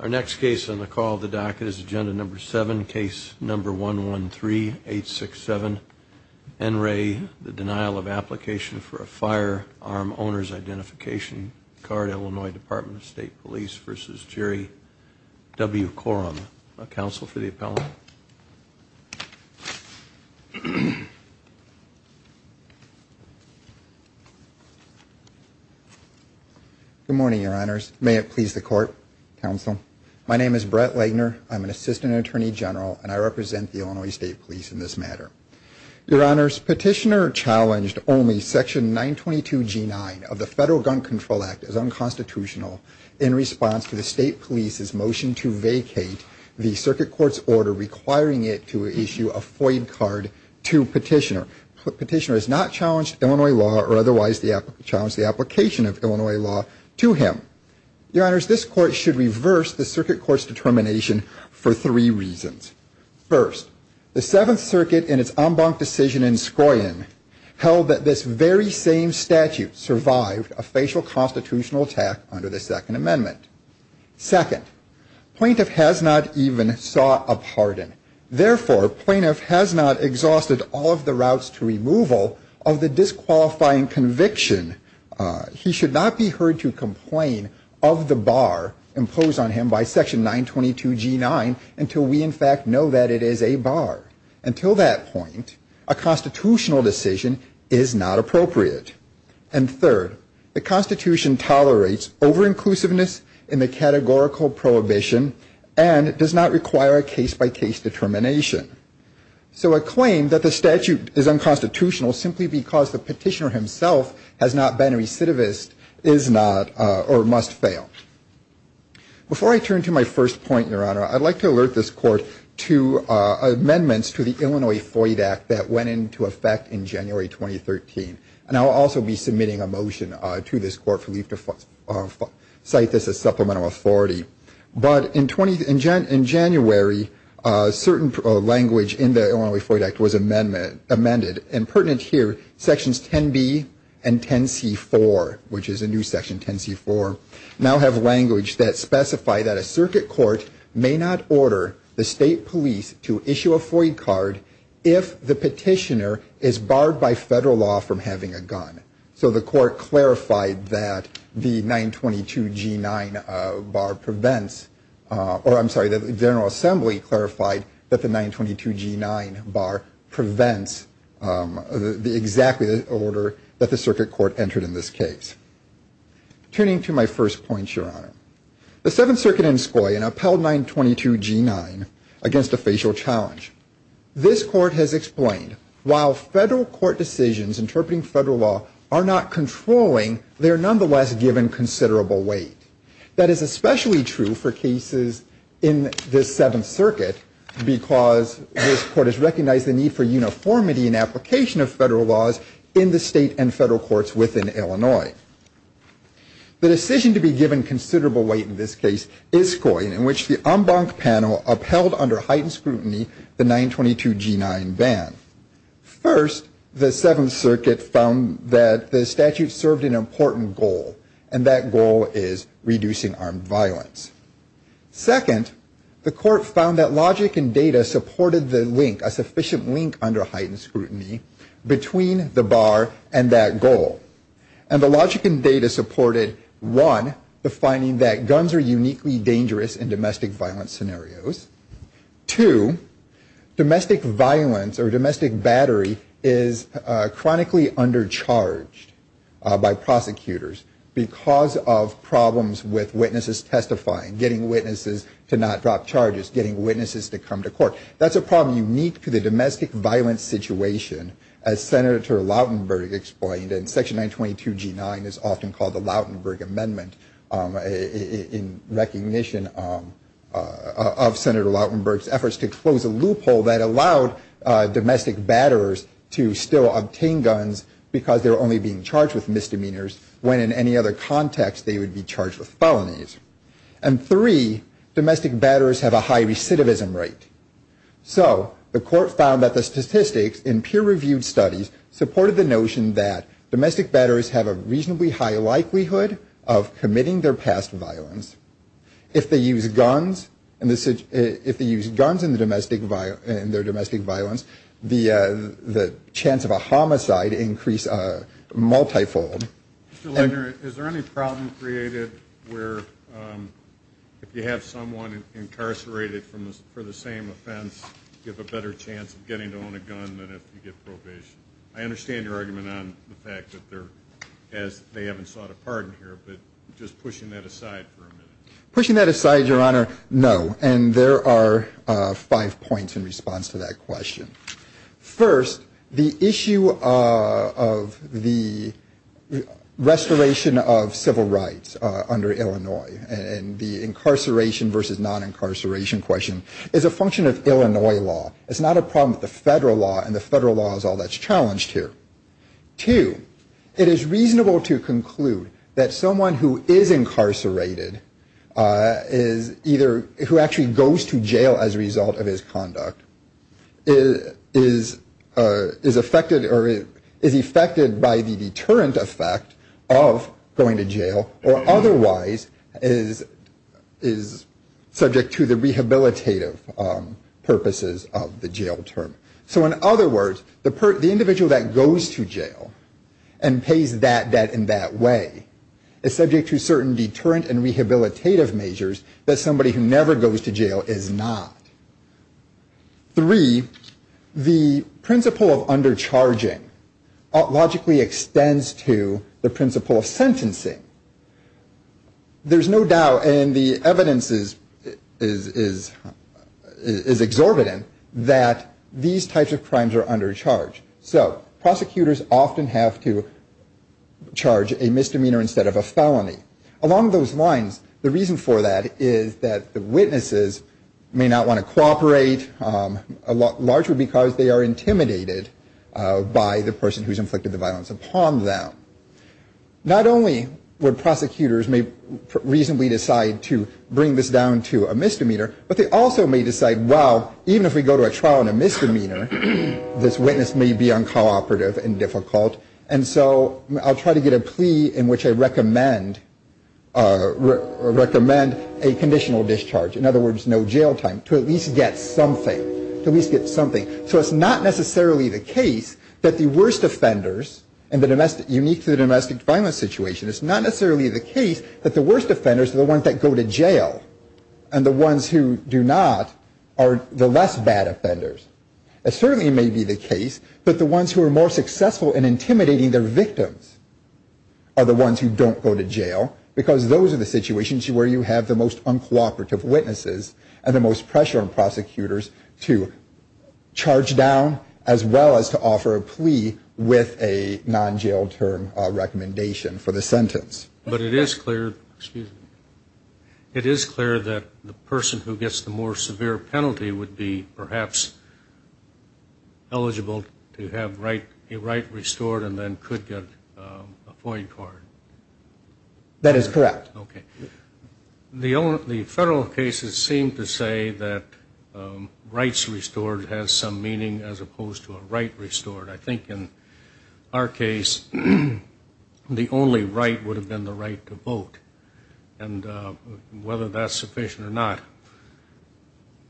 Our next case on the call of the docket is agenda number seven, case number 113867. NRA, the denial of application for a firearm owner's identification card. Illinois Department of State Police v. Jerry W. Coram. Counsel for the appellant. Good morning, your honors. May it please the court, counsel. My name is Brett Lagner. I'm an assistant attorney general, and I represent the Illinois State Police in this matter. Your honors, petitioner challenged only section 922G9 of the Federal Gun Control Act as unconstitutional in response to the State Police's motion to vacate the circuit court's order requiring it to issue a FOID card to petitioner. Petitioner has not challenged Illinois law or otherwise challenged the application of Illinois law to him. Your honors, this court should reverse the circuit court's determination for three reasons. First, the Seventh Circuit in its en banc decision in Skoyan held that this very same statute survived a facial constitutional attack under the Second Amendment. Second, plaintiff has not even sought a pardon. Therefore, plaintiff has not exhausted all of the routes to removal of the disqualifying conviction. He should not be heard to complain of the bar imposed on him by section 922G9 until we in fact know that it is a bar. Until that point, a constitutional decision is not appropriate. And third, the Constitution tolerates over-inclusiveness in the categorical prohibition and does not require a case-by-case determination. So a claim that the statute is unconstitutional simply because the petitioner himself has not been a recidivist is not or must fail. Before I turn to my first point, your honor, I'd like to alert this court to amendments to the Illinois FOID Act that went into effect in January 2013. And I'll also be submitting a motion to this court for leave to cite this as supplemental authority. But in January, certain language in the Illinois FOID Act was amended and pertinent here, sections 10B and 10C4, which is a new section, 10C4, now have language that specify that a circuit court may not order the state police to issue a FOID card if the petitioner is barred by federal law from having a gun. So the court clarified that the 922G9 bar prevents, or I'm sorry, the General Assembly clarified that the 922G9 bar prevents the exact order that the circuit court entered in this case. Turning to my first point, your honor, the Seventh Circuit in Esquoy had upheld 922G9 against a facial challenge. This court has explained while federal court decisions interpreting federal law are not controlling, they are nonetheless given considerable weight. That is especially true for cases in the Seventh Circuit because this court has recognized the need for uniformity in application of federal laws in the state and federal courts within Illinois. The decision to be given considerable weight in this case, Esquoy, in which the en banc panel upheld under heightened scrutiny the 922G9 ban. First, the Seventh Circuit found that the statute served an important goal, and that goal is reducing armed violence. Second, the court found that logic and data supported the link, a sufficient link under heightened scrutiny between the bar and that goal. And the logic and data supported, one, the finding that guns are uniquely dangerous in domestic violence scenarios. Two, domestic violence or domestic battery is chronically undercharged by prosecutors because of problems with witnesses testifying, getting witnesses to not drop charges, getting witnesses to come to court. That's a problem unique to the domestic violence situation, as Senator Lautenberg explained, and section 922G9 is often called the Lautenberg Amendment in recognition of Senator Lautenberg's efforts to close a loophole that allowed domestic batterers to still obtain guns because they're only being charged with misdemeanors when in any other context they would be charged with felonies. And three, domestic batterers have a high recidivism rate. So the court found that the statistics in peer-reviewed studies supported the notion that domestic batterers have a reasonably high likelihood of committing their past violence. If they use guns in their domestic violence, the chance of a homicide increase multifold. Mr. Legner, is there any problem created where if you have someone incarcerated for the same offense, you have a better chance of getting to own a gun than if you get probation? I understand your argument on the fact that they haven't sought a pardon here, but just pushing that aside for a minute. Pushing that aside, Your Honor, no. And there are five points in response to that question. First, the issue of the restoration of civil rights under Illinois and the incarceration versus non-incarceration question is a function of Illinois law. It's not a problem with the federal law, and the federal law is all that's challenged here. Two, it is reasonable to conclude that someone who is incarcerated is either, who actually goes to jail as a result of his conduct, is a reasonable person who is affected by the deterrent effect of going to jail or otherwise is subject to the rehabilitative purposes of the jail term. So in other words, the individual that goes to jail and pays that debt in that way is subject to certain deterrent and rehabilitative measures that somebody who never goes to jail is not. The principle of undercharging logically extends to the principle of sentencing. There's no doubt, and the evidence is exorbitant, that these types of crimes are under charge. So prosecutors often have to charge a misdemeanor instead of a felony. Along those lines, the reason for that is that the witnesses may not want to cooperate. Largely because they are intimidated by the person who has inflicted the violence upon them. Not only would prosecutors may reasonably decide to bring this down to a misdemeanor, but they also may decide, well, even if we go to a trial on a misdemeanor, this witness may be uncooperative and difficult. And so I'll try to get a plea in which I recommend a conditional discharge. In other words, no jail time. To at least get something. So it's not necessarily the case that the worst offenders, unique to the domestic violence situation, it's not necessarily the case that the worst offenders are the ones that go to jail. And the ones who do not are the less bad offenders. It certainly may be the case that the ones who are more successful in intimidating their victims are the ones who don't go to jail. Because those are the situations where you have the most uncooperative witnesses and the most pressure on prosecutors to charge down as well as to offer a plea with a non-jail term recommendation for the sentence. But it is clear, excuse me, it is clear that the person who gets the more severe penalty would be perhaps eligible to have a right restored and then could get a FOIA card. That is correct. Okay. The federal cases seem to say that rights restored has some meaning as opposed to a right restored. I think in our case the only right would have been the right to vote. And whether that's sufficient or not.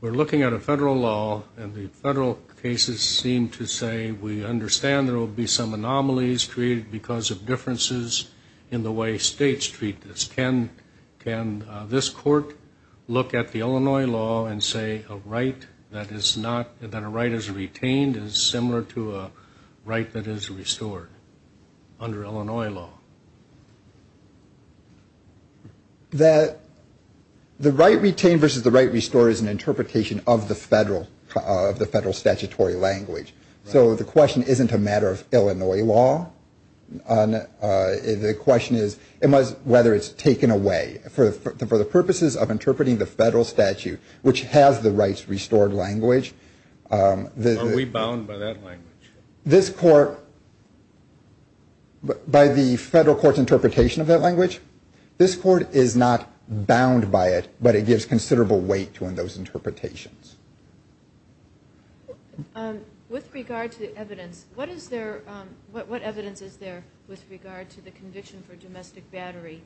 We're looking at a federal law and the federal cases seem to say we understand there will be some anomalies created because of differences in the way states treat this. Can this court look at the Illinois law and say a right that is retained is similar to a right that is restored under Illinois law? The right retained versus the right restored is an interpretation of the federal statutory language. So the question isn't a matter of Illinois law, the question is whether it's taken away. For the purposes of interpreting the federal statute which has the rights restored language. Are we bound by that language? By the federal court's interpretation of that language. This court is not bound by it, but it gives considerable weight to those interpretations. With regard to evidence, what evidence is there with regard to the conviction for domestic battery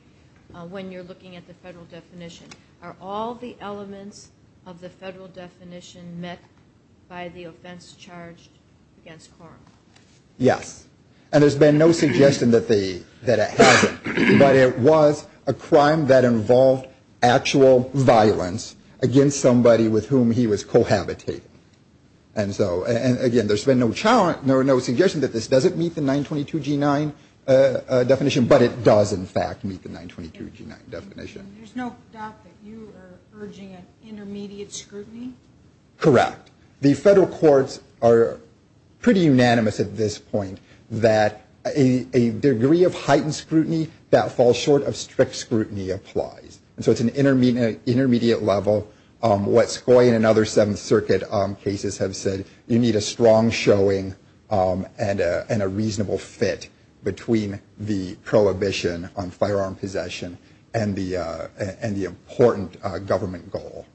when you're looking at the federal definition? Are all the elements of the federal definition met by the offense charged against Coram? Yes. And there's been no suggestion that it hasn't. But it was a crime that involved actual violence against somebody with whom he was cohabitating. And again, there's been no suggestion that this doesn't meet the 922G9 definition, but it does in fact meet the 922G9 definition. There's no doubt that you are urging an intermediate scrutiny? Correct. The federal courts are pretty unanimous at this point that a degree of heightened scrutiny that falls short of strict scrutiny applies. And so it's an intermediate level. What Scoia and other Seventh Circuit cases have said, you need a strong showing and a reasonable fit between the prohibition on firearm possession and the important government goal.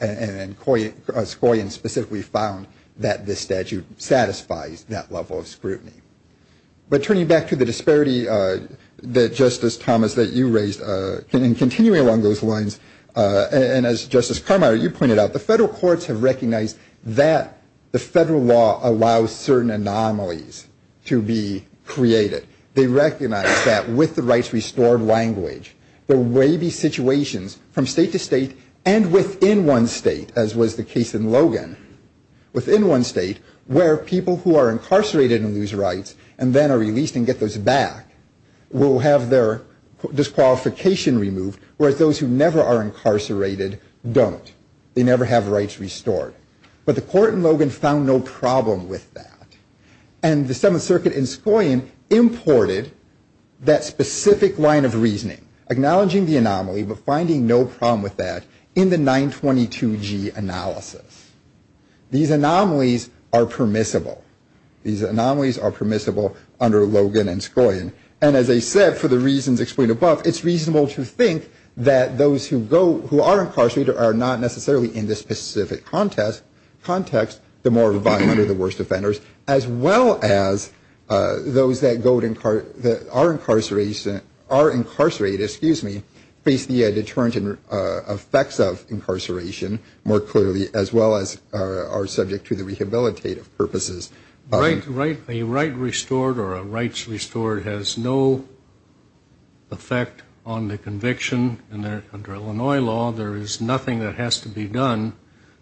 And Scoia specifically found that this statute satisfies that level of scrutiny. But turning back to the disparity that Justice Thomas, that you raised, and continuing along the same lines, and as Justice Carmichael, you pointed out, the federal courts have recognized that the federal law allows certain anomalies to be created. They recognize that with the rights restored language, there will be situations from state to state and within one state, as was the case in Logan, within one state where people who are incarcerated and lose rights and then are released and get those back will have their disqualification removed, whereas those who never are incarcerated don't. They never have rights restored. But the court in Logan found no problem with that. And the Seventh Circuit in Scoia imported that specific line of reasoning, acknowledging the anomaly, but finding no problem with that in the 922G analysis. These anomalies are permissible. These anomalies are permissible under Logan and Scoia. And as I said, for the reasons explained above, it's reasonable to think that those who are incarcerated are not necessarily in this specific context, the more violent or the worst offenders, as well as those that are incarcerated face the deterrent effects of incarceration more clearly, as well as are subject to the rehabilitative purposes. A right restored or a rights restored has no effect on the conviction. Under Illinois law, there is nothing that has to be done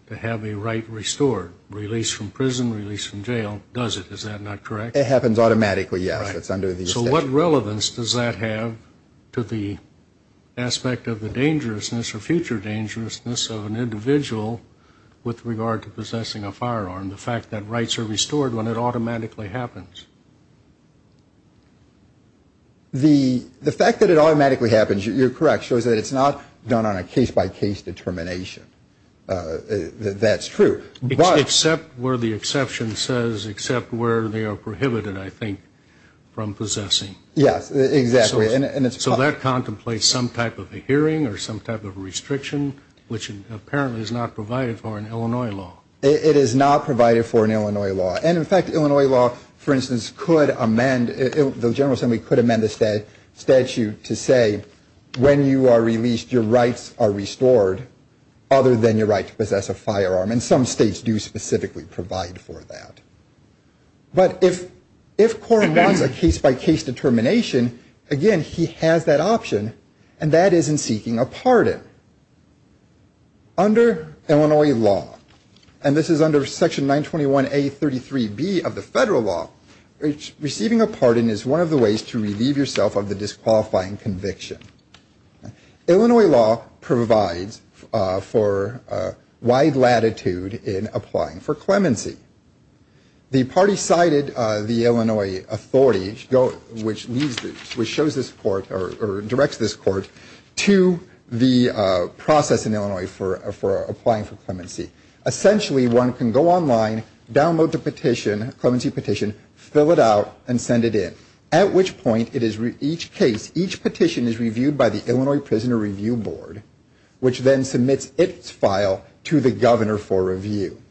to have a right restored. Release from prison, release from jail does it. Is that not correct? It happens automatically, yes. So what relevance does that have to the aspect of the dangerousness or future dangerousness of an individual with regard to possessing a firearm? The fact that rights are restored when it automatically happens? The fact that it automatically happens, you're correct, shows that it's not done on a case-by-case determination. That's true. Except where the exception says, except where they are prohibited, I think, from possessing. Yes, exactly. So that contemplates some type of a hearing or some type of a restriction, which apparently is not provided for in Illinois law. It is not provided for in Illinois law. And in fact, Illinois law, for instance, could amend, the General Assembly could amend the statute to say when you are released, your rights are restored, other than your right to possess a firearm, and some states do specifically provide for that. But if Cora wants a case-by-case determination, again, he has that option, and that is in seeking a pardon. Under Illinois law, and this is under Section 921A.33b of the federal law, receiving a pardon is one of the ways to relieve yourself of the disqualifying conviction. Illinois law provides for wide latitude in applying for clemency. The party cited the Illinois authority, which leads, which shows this court, or directs this court, to the process in Illinois for applying for clemency. Essentially, one can go online, download the petition, clemency petition, fill it out, and send it in. At which point, it is, each case, each petition is reviewed by the Illinois Prisoner Review Board, which then submits its file to the governor for review.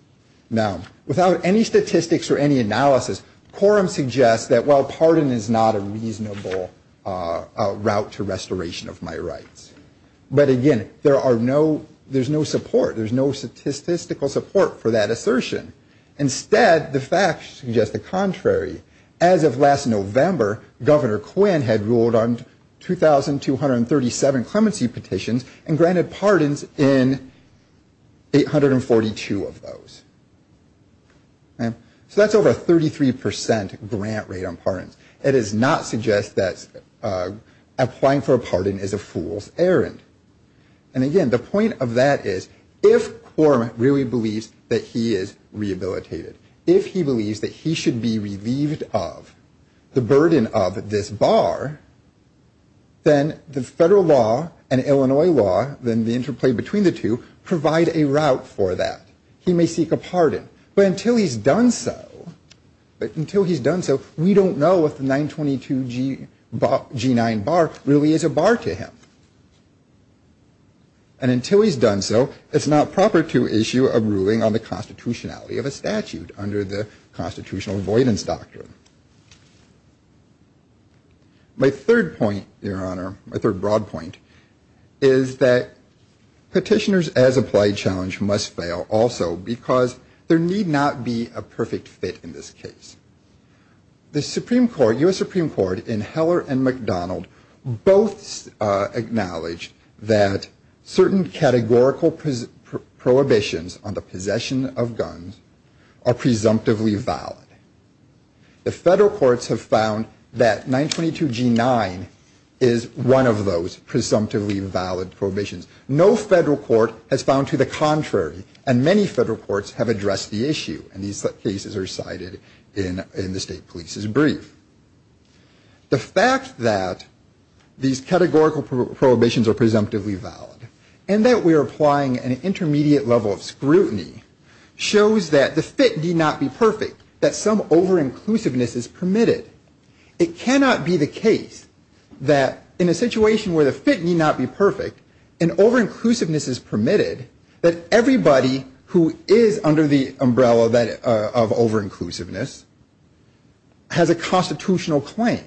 Now, without any statistics or any analysis, quorum suggests that, well, pardon is not a reasonable route to restoration of my rights. But again, there are no, there's no support, there's no statistical support for that assertion. Instead, the facts suggest the contrary. As of last November, Governor Quinn had ruled on 2,237 clemency petitions and granted pardons in 842 of those. So that's over a 33% grant rate on pardons. It does not suggest that applying for a pardon is a fool's errand. And again, the point of that is, if quorum really believes that he is rehabilitated, if he believes that he should be relieved of the burden of this bar, then the federal law and Illinois law, then the interplay between the two, provide a route for that. He may seek a pardon, but until he's done so, but until he's done so, we don't know if the 922 G9 bar really is a bar to him. And until he's done so, it's not proper to issue a ruling on the constitutionality of a statute under the constitutional avoidance doctrine. My third point, Your Honor, my third broad point, is that petitioners as applied challenge must fail, also, if they fail to meet the requirements of the statute, also, because there need not be a perfect fit in this case. The Supreme Court, U.S. Supreme Court, in Heller and McDonald, both acknowledged that certain categorical prohibitions on the possession of guns are presumptively valid. The federal courts have found that 922 G9 is one of those presumptively valid prohibitions. No federal court has found to the contrary, and many federal courts have addressed the issue. And these cases are cited in the state police's brief. The fact that these categorical prohibitions are presumptively valid, and that we are applying an intermediate level of scrutiny, shows that the fit need not be perfect, that some over-inclusiveness is permitted. It cannot be the case that in a situation where the fit need not be perfect, an over-inclusiveness is permitted. If over-inclusiveness is permitted, that everybody who is under the umbrella of over-inclusiveness has a constitutional claim.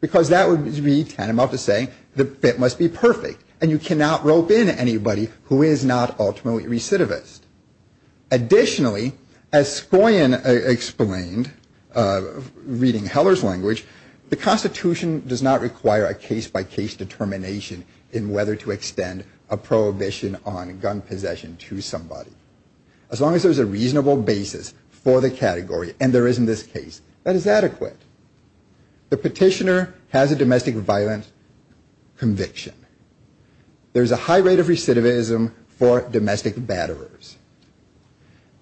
Because that would be tantamount to saying the fit must be perfect, and you cannot rope in anybody who is not ultimately recidivist. Additionally, as Scoyin explained, reading Heller's language, the Constitution does not require a case-by-case determination in whether to extend the prohibition on gun possession to somebody. As long as there is a reasonable basis for the category, and there is in this case, that is adequate. The petitioner has a domestic violent conviction. There is a high rate of recidivism for domestic batterers.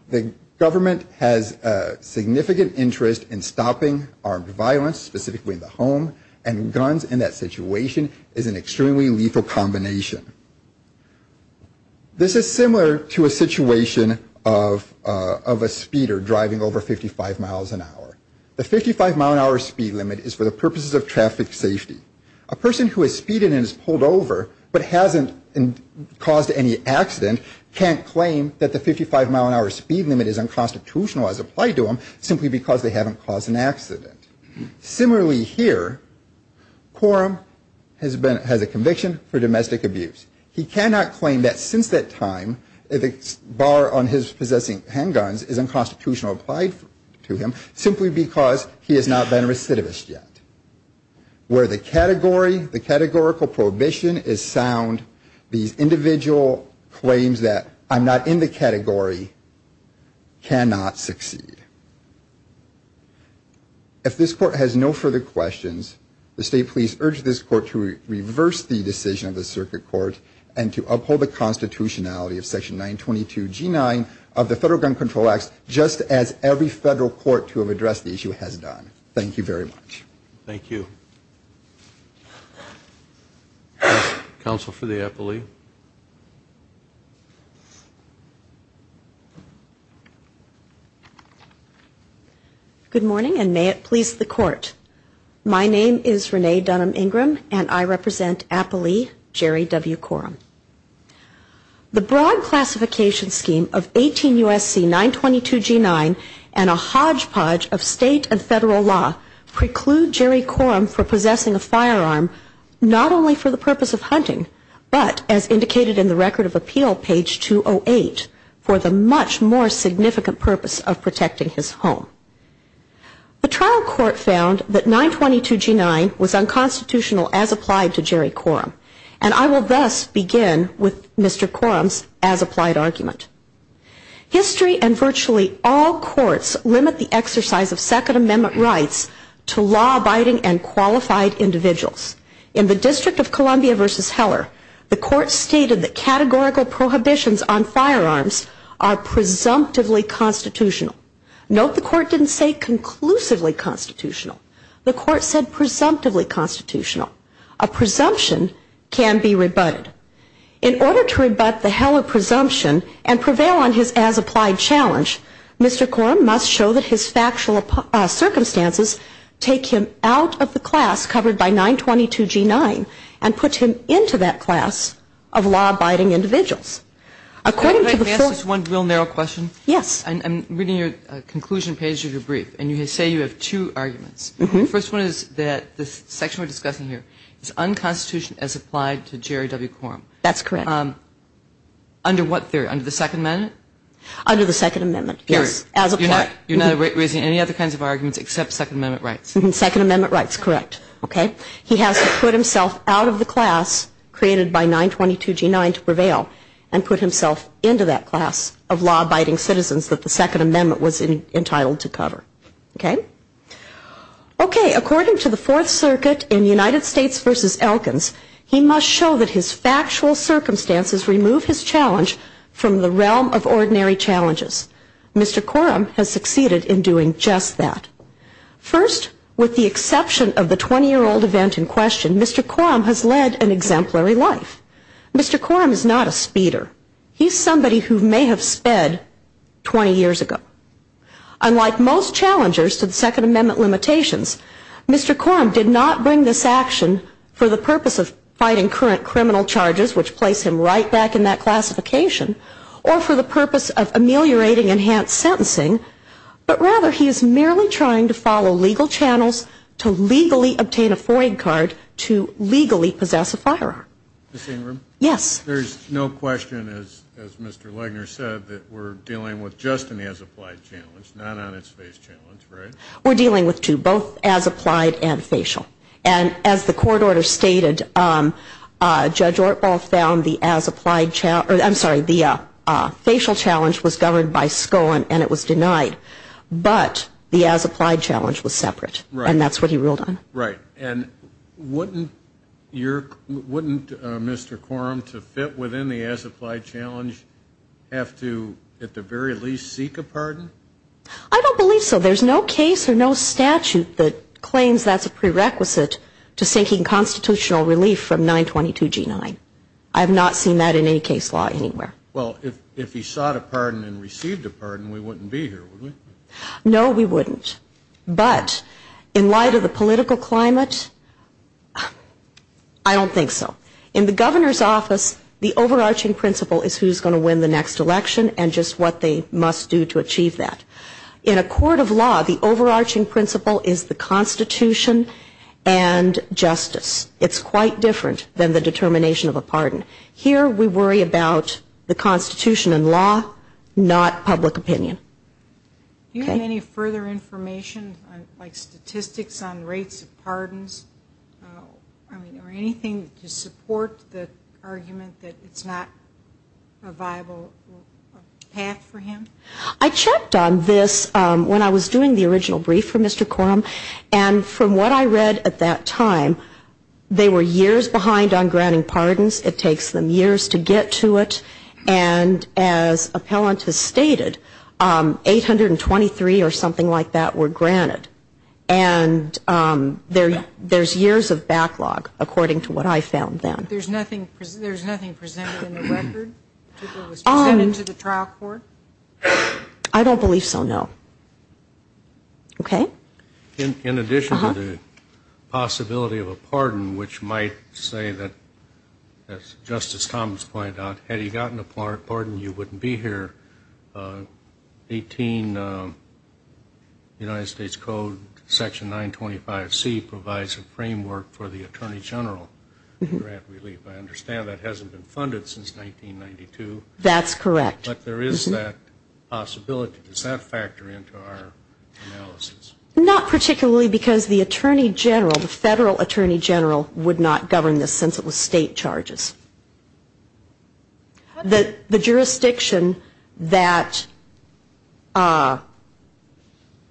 The government has a significant interest in stopping armed violence, specifically in the home, and guns in that situation is an exception. This is similar to a situation of a speeder driving over 55 miles an hour. The 55-mile-an-hour speed limit is for the purposes of traffic safety. A person who has speeded and is pulled over, but hasn't caused any accident, can't claim that the 55-mile-an-hour speed limit is unconstitutional as applied to them, simply because they haven't caused an accident. Similarly here, Quorum has a conviction for domestic abuse. He cannot claim that since that time, a bar on his possessing handguns is unconstitutional applied to him, simply because he has not been a recidivist yet. Where the category, the categorical prohibition is sound, these individual claims that I'm not in the category cannot succeed. If this Court has no further questions, the State Police urge this Court to reverse the decision of the Circuit Court and to uphold the constitutionality of Section 922G9 of the Federal Gun Control Act, just as every Federal Court to have addressed the issue has done. Thank you very much. Thank you. Good morning, and may it please the Court. My name is Renee Dunham Ingram, and I represent APALEE, Jerry W. Quorum. The broad classification scheme of 18 U.S.C. 922G9 and a hodgepodge of State and Federal law preclude Jerry Quorum for possessing a firearm, not only for the purpose of hunting, but, as indicated in the Record of Appeal, page 208, for the much more significant purpose of protecting his home. The trial court found that 922G9 was unconstitutional as applied to Jerry Quorum, and I will thus begin with Mr. Quorum's as-applied argument. History and virtually all courts limit the exercise of Second Amendment rights to law-abiding and qualified individuals. In the District of Columbia v. Heller, the Court stated that categorical prohibitions on firearms are presumptively constitutional. Note the Court didn't say conclusively constitutional. The Court said presumptively constitutional. A presumption can be rebutted. In order to rebut the Heller presumption and prevail on his as-applied challenge, Mr. Quorum must show that his factual circumstances take him out of the class covered by 922G9 and put him into that class of law-abiding individuals. According to the full... Can I ask just one real narrow question? Yes. I'm reading your conclusion page of your brief, and you say you have two arguments. The first one is that this section we're discussing here is unconstitutional as applied to Jerry W. Quorum. That's correct. Under what theory? Under the Second Amendment? Under the Second Amendment, yes. As a court. You're not raising any other kinds of arguments except Second Amendment rights? Second Amendment rights, correct. Okay? He has to put himself out of the class created by 922G9 to prevail, and he has to show that he is unconstitutional. He has to show that he is unconstitutional and put himself into that class of law-abiding citizens that the Second Amendment was entitled to cover. According to the Fourth Circuit in United States v. Elkins, he must show that his factual circumstances remove his challenge from the realm of ordinary challenges. Mr. Quorum has succeeded in doing just that. First, with the exception of the 20-year-old event in question, Mr. Quorum has led an exemplary life. Mr. Quorum is not a speeder. He's somebody who may have sped 20 years ago. Unlike most challengers to the Second Amendment limitations, Mr. Quorum did not bring this action for the purpose of fighting current criminal charges, which place him right back in that classification, or for the purpose of ameliorating enhanced sentencing, but rather he is merely trying to follow legal channels to legally obtain a foreign card to legally possess a firearm. Ms. Ingram? Yes. There's no question, as Mr. Legner said, that we're dealing with just an as-applied challenge, not on its face challenge, right? We're dealing with two, both as-applied and facial. And as the court order stated, Judge Ortbaugh found the as-applied challenge, I'm sorry, the facial challenge was governed by SCOAN and it was denied, but the as-applied challenge was separate, and that's what he ruled on. Right. And wouldn't Mr. Quorum, to fit within the as-applied challenge, have to at the very least seek a pardon? I don't believe so. There's no case or no statute that claims that's a prerequisite to seeking constitutional relief from 922G9. I have not seen that in any case law anywhere. Well, if he sought a pardon and received a pardon, we wouldn't be here, would we? No, we wouldn't. But in light of the political climate, I don't think so. In the governor's office, the overarching principle is who's going to win the next election and just what they must do to achieve that. In a court of law, the overarching principle is the Constitution and justice. It's quite different than the determination of a pardon. Here we worry about the Constitution and law, not public opinion. Do you have any further information, like statistics on rates of pardons? I mean, or anything to support the argument that it's not a viable path for him? I checked on this when I was doing the original brief for Mr. Quorum, and from what I read at that time, I found that Mr. Quorum, they were years behind on granting pardons. It takes them years to get to it. And as appellant has stated, 823 or something like that were granted. And there's years of backlog, according to what I found then. There's nothing presented in the record that was presented to the trial court? I don't believe so, no. Okay. In addition to the possibility of a pardon, which might say that, as Justice Thomas pointed out, had he gotten a pardon, you wouldn't be here, United States Code section 925C provides a framework for the attorney general grant relief. I understand that hasn't been funded since 1992. That's correct. But there is that possibility. Does that factor into our analysis? Not particularly, because the attorney general, the federal attorney general, would not govern this since it was state charges. The jurisdiction that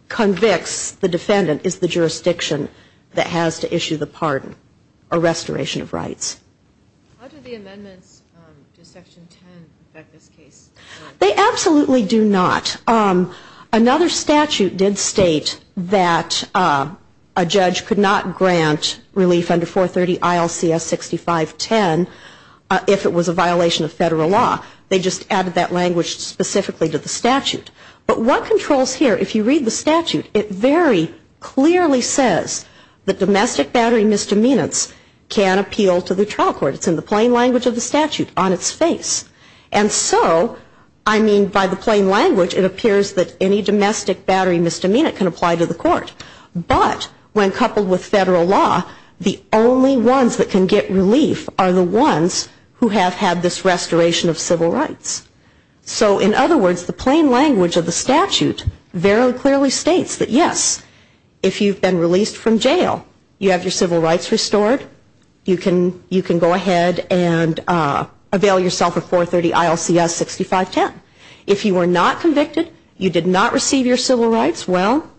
convicts the defendant is the jurisdiction that has to issue the pardon, a restoration of rights. How do the amendments to section 10 affect this case? They absolutely do not. Another statute did state that a judge could not grant relief under 430 ILCS 6510 if it was a violation of federal law. They just added that language specifically to the statute. But what controls here, if you read the statute, it very clearly says that domestic battery misdemeanors can appeal to the trial court. It's in the plain language of the statute, on its face. And so, I mean, by the plain language, it appears that any domestic battery misdemeanor can apply to the court. But when coupled with federal law, the only ones that can get relief are the ones who have had this restoration of civil rights. So in other words, the plain language of the statute very clearly states that, yes, if you've been released from jail, you have your civil rights restored, you can go ahead and avail yourself of 430 ILCS 6510. If you were not convicted, you did not receive your civil rights, well,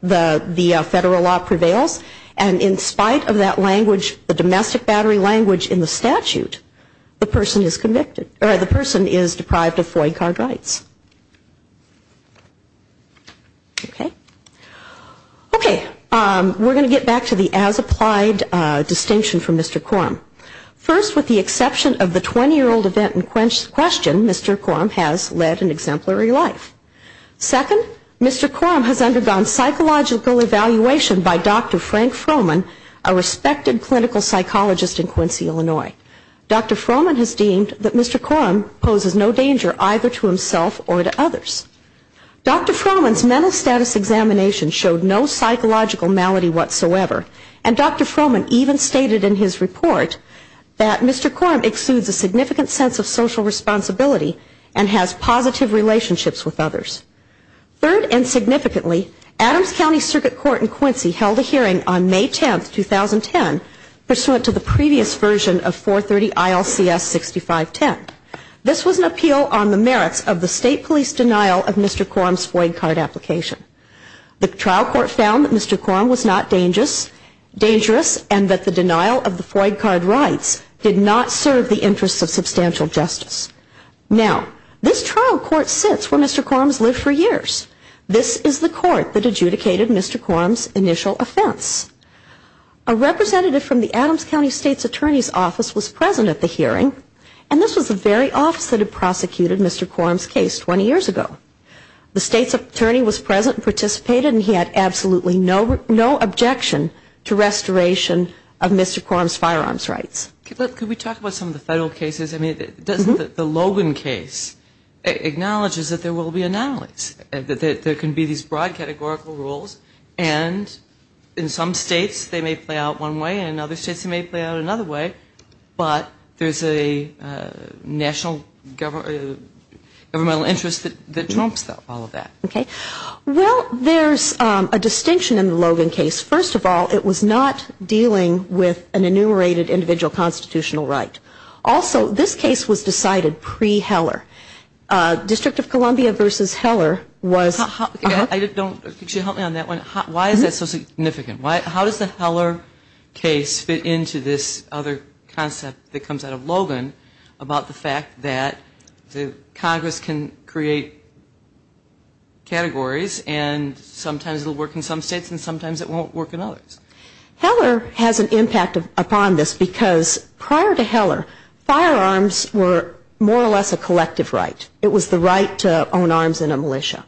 the federal law prevails. And in spite of that language, the domestic battery language in the statute, the person is convicted, or the person is deprived of FOIA card rights. Okay. Okay, we're going to get back to the as-applied distinction from Mr. Quorum. First, with the exception of the 20-year-old event in question, Mr. Quorum has led an exemplary life. Second, Mr. Quorum has undergone psychological evaluation by Dr. Frank Froman, a respected clinical psychologist in Quincy, Illinois. Dr. Froman has deemed that Mr. Quorum poses no danger either to himself or to others. Dr. Froman's mental status examination showed no psychological malady whatsoever, and Dr. Froman even stated in his report that Mr. Quorum exudes a significant sense of social responsibility and has positive relationships with others. Third and significantly, Adams County Circuit Court in Quincy held a hearing on May 10, 2010, pursuant to the previous version of 430 ILCS 6510. This was an appeal on the merits of the state police denial of Mr. Quorum's FOIA card application. The trial court found that Mr. Quorum was not dangerous and that the denial of the FOIA card rights did not serve the interests of substantial justice. Now, this trial court sits where Mr. Quorum has lived for years. This is the court that adjudicated Mr. Quorum's initial offense. A representative from the Adams County State's Attorney's Office was present at the hearing, and this was the very office that had prosecuted Mr. Quorum's case 20 years ago. The state's attorney was present and participated, and he had absolutely no objection to restoration of Mr. Quorum's firearms rights. Could we talk about some of the federal cases? I mean, the Logan case acknowledges that there will be anomalies, that there can be these broad categorical rules, and in some states they may play out one way, and in other states they may play out another way, but there's a national governmental interest that trumps all of that. Well, there's a distinction in the Logan case. First of all, it was not dealing with an enumerated individual constitutional right. Also, this case was decided pre-Heller. District of Columbia v. Heller was... Could you help me on that one? Why is that so significant? How does the Heller case fit into this other concept that comes out of Logan about the fact that Congress can create categories, and sometimes it will work in some states and sometimes it won't work in others? Heller has an impact upon this because prior to Heller, firearms were more or less a collective right. It was the right to own arms in a militia.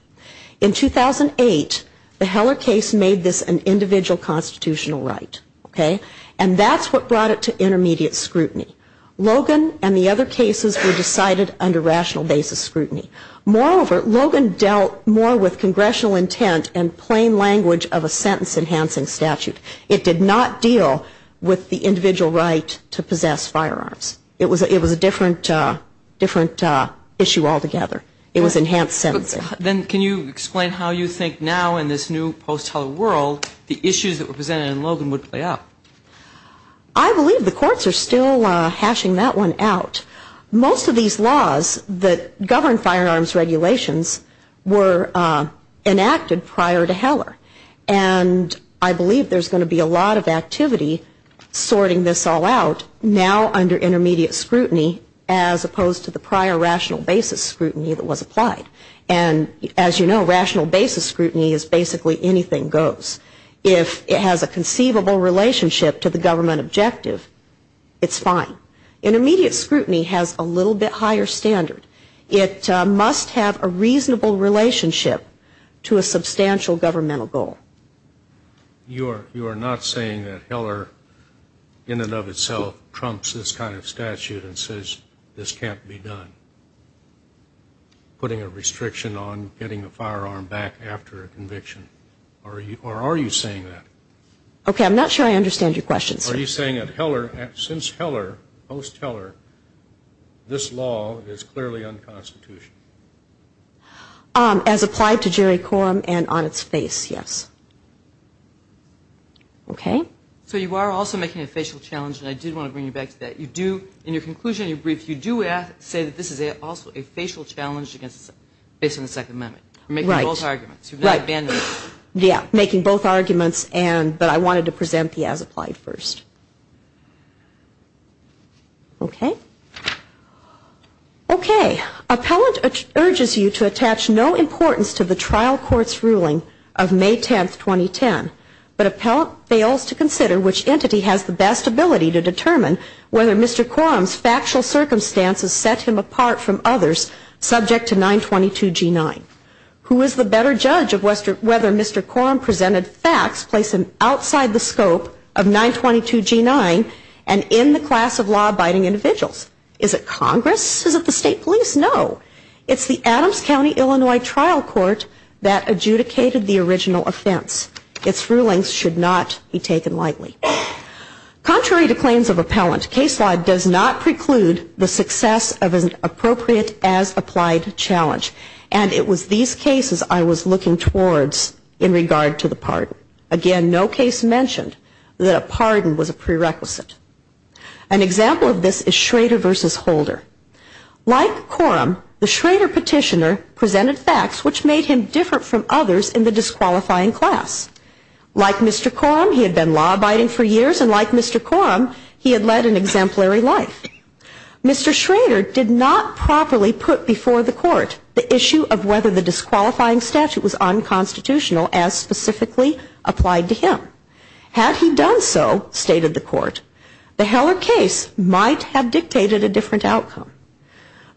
In 2008, the Heller case made this an individual constitutional right, and that's what brought it to intermediate scrutiny. Logan and the other cases were decided under rational basis scrutiny. Moreover, Logan dealt more with congressional intent and plain language of a sentence-enhancing statute. It did not deal with the individual right to possess firearms. It was a different issue altogether. It was enhanced sentencing. Then can you explain how you think now, in this new post-Heller world, the issues that were presented in Logan would play out? I believe the courts are still hashing that one out. Most of these laws that govern firearms regulations were enacted prior to Heller, and I believe there's going to be a lot of activity sorting this all out now under intermediate scrutiny as opposed to the prior rational basis scrutiny that was applied. And as you know, rational basis scrutiny is basically anything goes. If it has a conceivable relationship to the government objective, it's fine. Intermediate scrutiny has a little bit higher standard. It must have a reasonable relationship to a substantial governmental goal. You are not saying that Heller in and of itself trumps this kind of statute and says this can't be done, putting a restriction on getting a firearm back after a conviction, or are you saying that? Okay, I'm not sure I understand your question, sir. Are you saying that since Heller, post-Heller, this law is clearly unconstitutional? As applied to jury quorum and on its face, yes. Okay. So you are also making a facial challenge, and I did want to bring you back to that. In your conclusion, in your brief, you do say that this is also a facial challenge based on the Second Amendment. Right. Making both arguments, but I wanted to present the as applied first. Okay. Okay. Appellant urges you to attach no importance to the trial court's ruling of May 10, 2010, but appellant fails to consider which entity has the best ability to determine whether Mr. Quorum's factual circumstances set him apart from others subject to 922G9. Who is the better judge of whether Mr. Quorum presented facts placed outside the scope of 922G9 and in the class of law-abiding individuals? Is it Congress? Is it the state police? No. It's the Adams County, Illinois, trial court that adjudicated the original offense. Its rulings should not be taken lightly. Contrary to claims of appellant, case law does not preclude the success of an appropriate as applied challenge, and it was these cases I was looking towards in regard to the pardon. Again, no case mentioned that a pardon was a prerequisite. An example of this is Schrader v. Holder. Like Quorum, the Schrader petitioner presented facts which made him different from others in the disqualifying class. Like Mr. Quorum, he had been law-abiding for years, and like Mr. Quorum, he had led an exemplary life. Mr. Schrader did not properly put before the court the issue of whether the disqualifying statute was unconstitutional, as specifically applied to him. Had he done so, stated the court, the Heller case might have dictated a different outcome.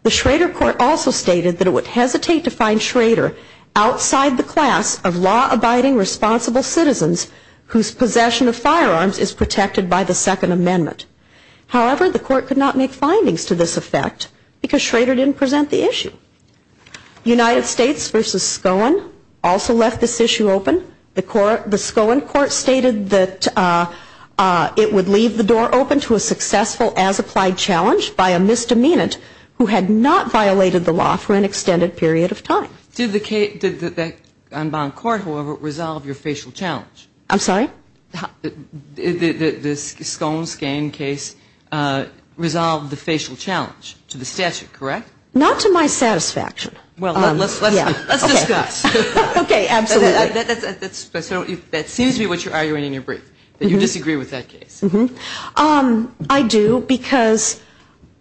The Schrader court also stated that it would hesitate to find Schrader outside the class of law-abiding responsible citizens whose possession of firearms is protected by the Second Amendment. However, the court could not make findings to this effect because Schrader didn't present the issue. United States v. Scone also left this issue open. The Scone court stated that it would leave the door open to a successful as-applied challenge by a misdemeanant who had not violated the law for an extended period of time. Did the unbound court, however, resolve your facial challenge? I'm sorry? The Scone-Skane case resolved the facial challenge to the statute, correct? Not to my satisfaction. Well, let's discuss. Okay, absolutely. That seems to be what you're arguing in your brief, that you disagree with that case. I do, because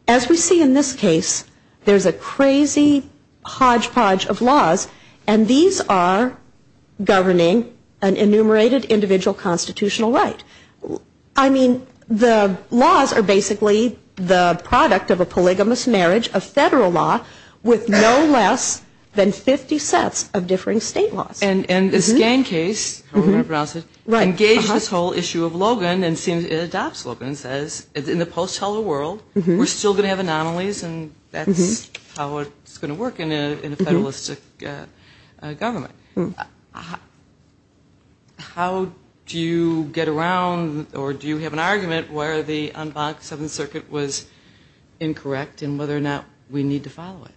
as we see in this case, there's a crazy hodgepodge of laws, and these are governing an enumerated individual constitutional right. I mean, the laws are basically the product of a polygamous marriage of federal law with no less than 50 sets of differing state laws. And the Skane case, however you want to pronounce it, engaged this whole issue of Logan and adopts Logan and says, in the post-Heller world, we're still going to have anomalies and that's how it's going to work in a federalistic government. How do you get around, or do you have an argument where the unbound Seventh Circuit was incorrect in whether or not we need to follow it?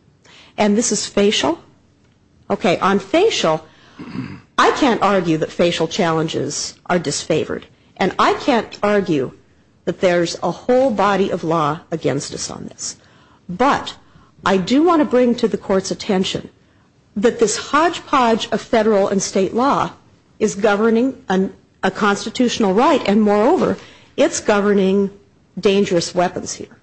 I can't argue that facial challenges are disfavored. And I can't argue that there's a whole body of law against us on this. But I do want to bring to the Court's attention that this hodgepodge of federal and state law is governing a constitutional right, and moreover, it's governing dangerous weapons here.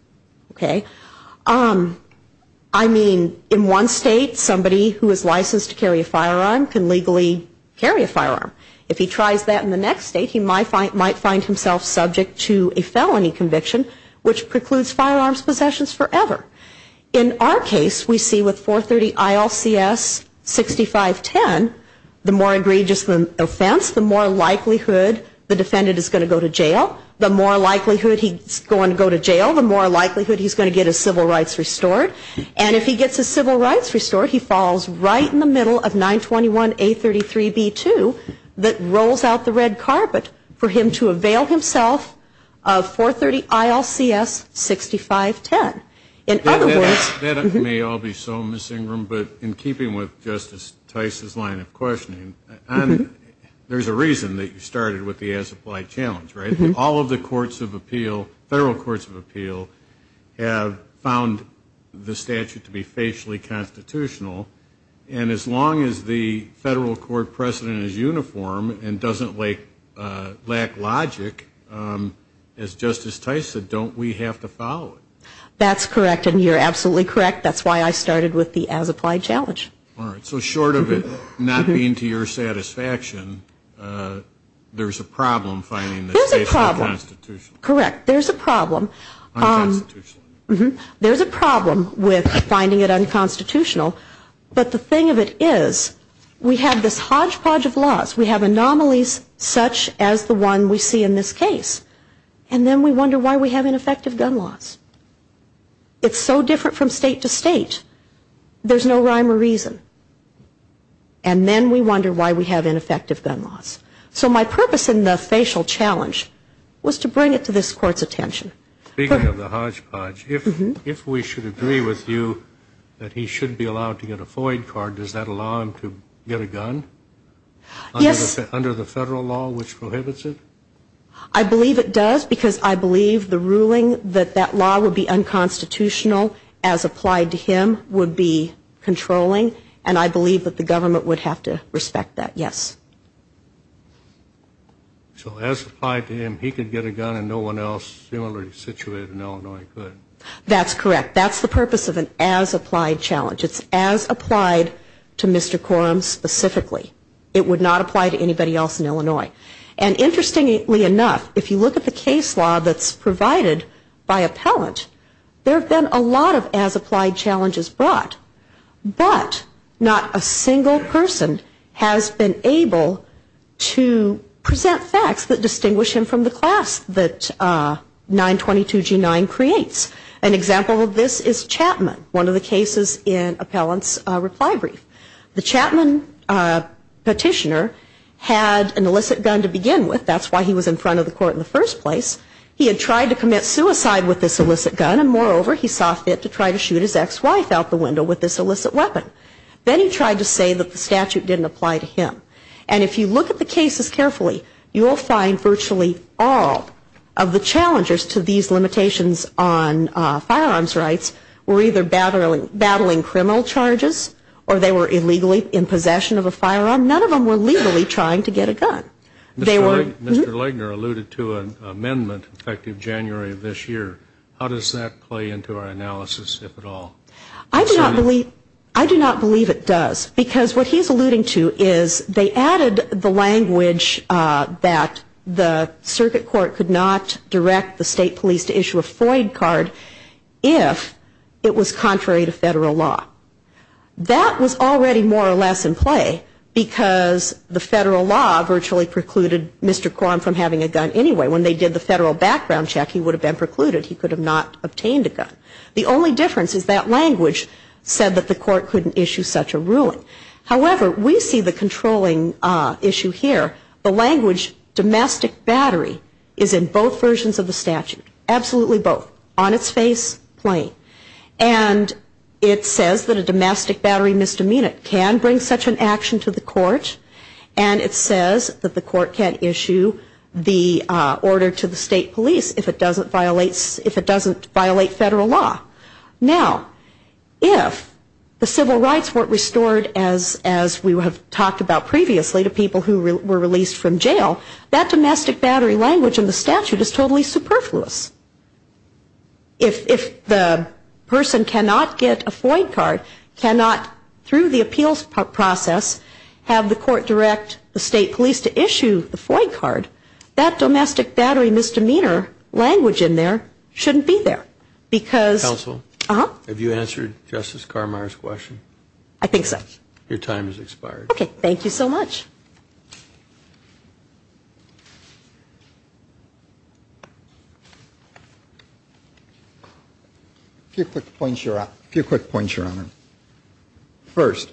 I mean, in one state, somebody who is licensed to carry a firearm can legally carry a firearm. If he tries that in the next state, he might find himself subject to a felony conviction which precludes firearms possessions forever. In our case, we see with 430 ILCS 6510, the more egregious the offense, the more likelihood the defendant is going to go to jail. The more likelihood he's going to go to jail, the more likelihood he's going to get his civil rights restored. And if he gets his civil rights restored, he falls right in the middle of 921A33B2 that rolls out the red carpet for him to avail himself of 430 ILCS 6510. That may all be so, Ms. Ingram, but in keeping with Justice Tice's line of questioning, there's a reason that you started with the as-applied challenge, right? All of the courts of appeal, federal courts of appeal, have found the statute to be facially constitutional, and as long as the federal court precedent is uniform and doesn't lack logic, as Justice Tice said, don't we have to follow it? That's correct, and you're absolutely correct. That's why I started with the as-applied challenge. All right. So short of it not being to your satisfaction, there's a problem finding the statute unconstitutional. There's a problem. There's a problem with finding it unconstitutional, but the thing of it is we have this hodgepodge of laws. We have anomalies such as the one we see in this case, and then we wonder why we have ineffective gun laws. It's so different from state to state, there's no rhyme or reason. And then we wonder why we have ineffective gun laws. So my purpose in the facial challenge was to bring it to this Court's attention. Speaking of the hodgepodge, if we should agree with you that he should be allowed to get a FOIA card, does that allow him to get a gun? Yes. Under the federal law, which prohibits it? I believe it does because I believe the ruling that that law would be unconstitutional as applied to him would be controlling, and I believe that the government would have to respect that, yes. So as applied to him, he could get a gun and no one else similarly situated in Illinois could. That's correct. That's the purpose of an as applied challenge. It's as applied to Mr. Quorum specifically. It would not apply to anybody else in Illinois. And interestingly enough, if you look at the case law that's provided by appellant, there have been a lot of as applied challenges brought, but not a single person has been able to present facts that distinguish him from the class that 922G9 creates. An example of this is Chapman, one of the cases in appellant's reply brief. The Chapman petitioner had an illicit gun to begin with. That's why he was in front of the Court in the first place. He had tried to commit suicide with this illicit gun, and moreover, he saw fit to try to shoot his ex-wife out the window with this illicit weapon. Then he tried to say that the statute didn't apply to him. And if you look at the cases carefully, you will find virtually all of the challengers to these limitations on firearms rights were either battling criminal charges or they were illegally in possession of a firearm. None of them were legally trying to get a gun. Mr. Legner alluded to an amendment effective January of this year. How does that play into our analysis, if at all? I do not believe it does, because what he's alluding to is they added the language that the circuit court could not direct the state police to issue a FOIA card if it was contrary to federal law. That was already more or less in play, because the federal law virtually precluded Mr. Quam from having a gun anyway. When they did the federal background check, he would have been precluded. He could have not obtained a gun. The only difference is that language said that the court couldn't issue such a ruling. However, we see the controlling issue here. The language domestic battery is in both versions of the statute. Absolutely both, on its face, plain. And it says that a domestic battery misdemeanor can bring such an action to the court. And it says that the court can issue the order to the state police if it doesn't violate federal law. Now, if the civil rights weren't restored as we have talked about previously to people who were released from jail, that domestic battery language in the statute is totally superfluous. If the person cannot get a FOIA card, cannot through the appeals process have the court direct the state police to issue the FOIA card, that domestic battery misdemeanor language in there shouldn't be there. Counsel, have you answered Justice Carmeier's question? I think so. A few quick points, Your Honor. First,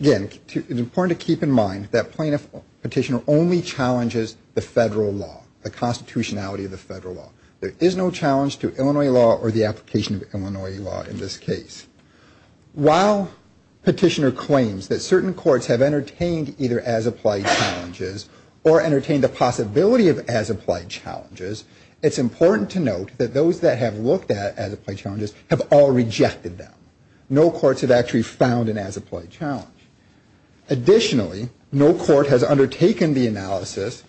again, it's important to keep in mind that plaintiff petitioner only challenges the federal law, the constitutionality of the federal law. There is no challenge to Illinois law or the application of Illinois law in this case. While petitioner claims that certain courts have entertained either as-applied challenges or entertained the possibility of as-applied challenges, it's important to note that those that have looked at as-applied challenges have all rejected them. No courts have actually found an as-applied challenge. Additionally, no court has undertaken the analysis,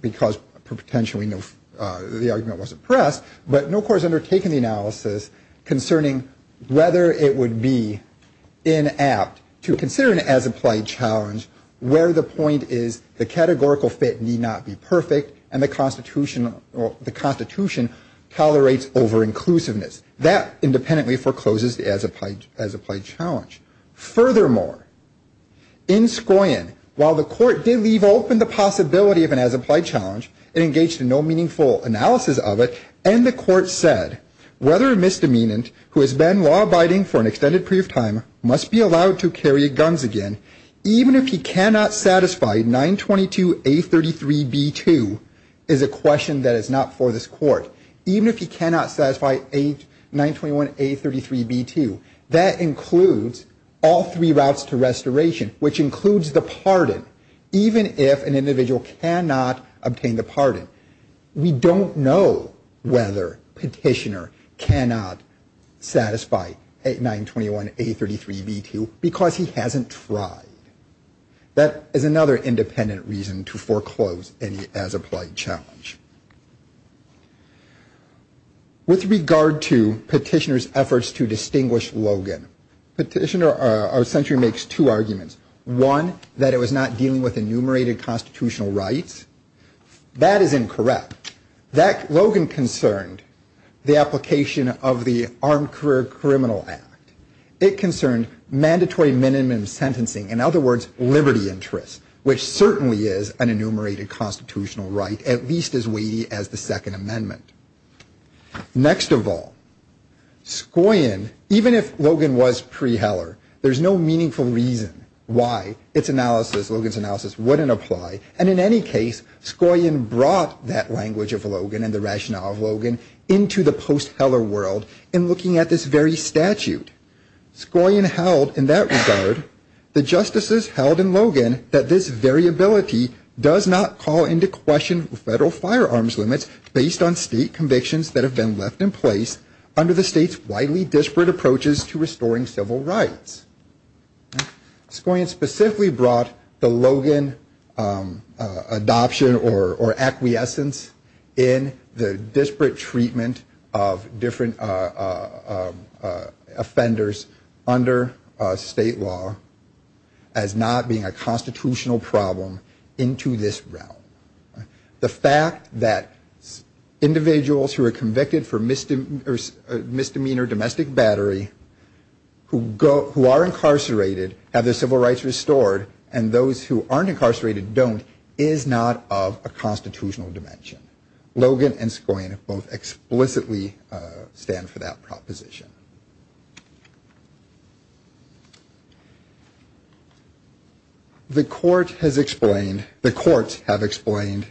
because potentially the argument wasn't pressed, but no court has undertaken the analysis concerning whether it would be inapt to consider an as-applied challenge where the point is the categorical fit need not be perfect and the constitution tolerates over-inclusiveness. That independently forecloses the as-applied challenge. Furthermore, in Skoyen, while the court did leave open the possibility of an as-applied challenge and engaged in no meaningful analysis of it, and the court said, whether a misdemeanant who has been law-abiding for an extended period of time must be allowed to carry guns again, even if he cannot satisfy 922A33B2 is a question that is not for this court. Even if he cannot satisfy 921A33B2, that includes all three routes to restoration, which includes the pardon, even if an individual cannot obtain the pardon. We don't know whether Petitioner cannot satisfy 921A33B2, because he hasn't tried. That is another independent reason to foreclose any as-applied challenge. With regard to Petitioner's efforts to distinguish Logan, Petitioner essentially makes two arguments. One, that it was not dealing with enumerated constitutional rights. That is incorrect. Logan concerned the application of the Armed Career Criminal Act. It concerned mandatory minimum sentencing, in other words, liberty interests, which certainly is an enumerated constitutional right, at least as weighty as the Second Amendment. Next of all, Skoyen, even if Logan was pre-Heller, there's no meaningful reason why its analysis, Logan's analysis, wouldn't apply, and in any case, Skoyen brought that language of Logan and the rationale of Logan into the post-Heller world in looking at this very statute. Skoyen held, in that regard, the justices held in Logan that this variability does not call into question federal firearms limits based on state convictions that have been left in place under the state's widely disparate approaches to restoring civil rights. Skoyen specifically brought the Logan adoption or acquiescence in the disparate treatment of different offenders under state law as not being a constitutional problem into this realm. The fact that individuals who are convicted for misdemeanor domestic battery who are incarcerated have their civil rights restored and those who aren't incarcerated don't is not of a constitutional dimension. Logan and Skoyen both explicitly stand for that proposition. The court has explained, the courts have explained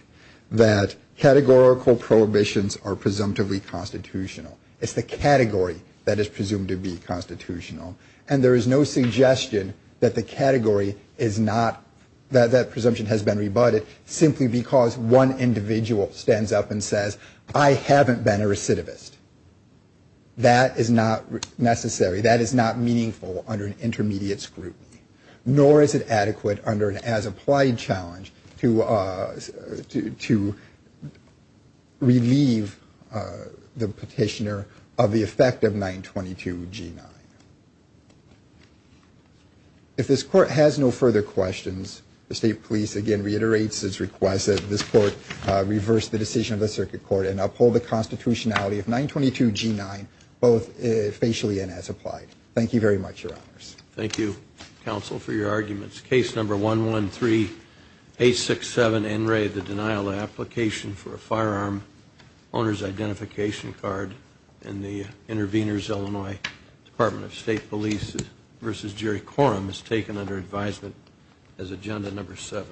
that categorical prohibitions are presumptively constitutional. It's the category that is presumed to be constitutional, and there is no suggestion that the category is not, that that presumption has been rebutted simply because one individual stands up and says, I haven't been a recidivist. That is not necessary, that is not meaningful under an intermediate scrutiny, nor is it adequate under an as-applied challenge to relieve the petitioner of the effect of 922 G9. If this court has no further questions, the state police again reiterates its request that this court reverse the decision of the circuit court and uphold the constitutionality of 922 G9, both facially and as-applied. Thank you very much, Your Honors. Thank you, counsel, for your arguments. Case number 113867 N. Ray, the denial of application for a firearm owner's identification card by the Department of State Police v. Jerry Corum is taken under advisement as agenda number 7.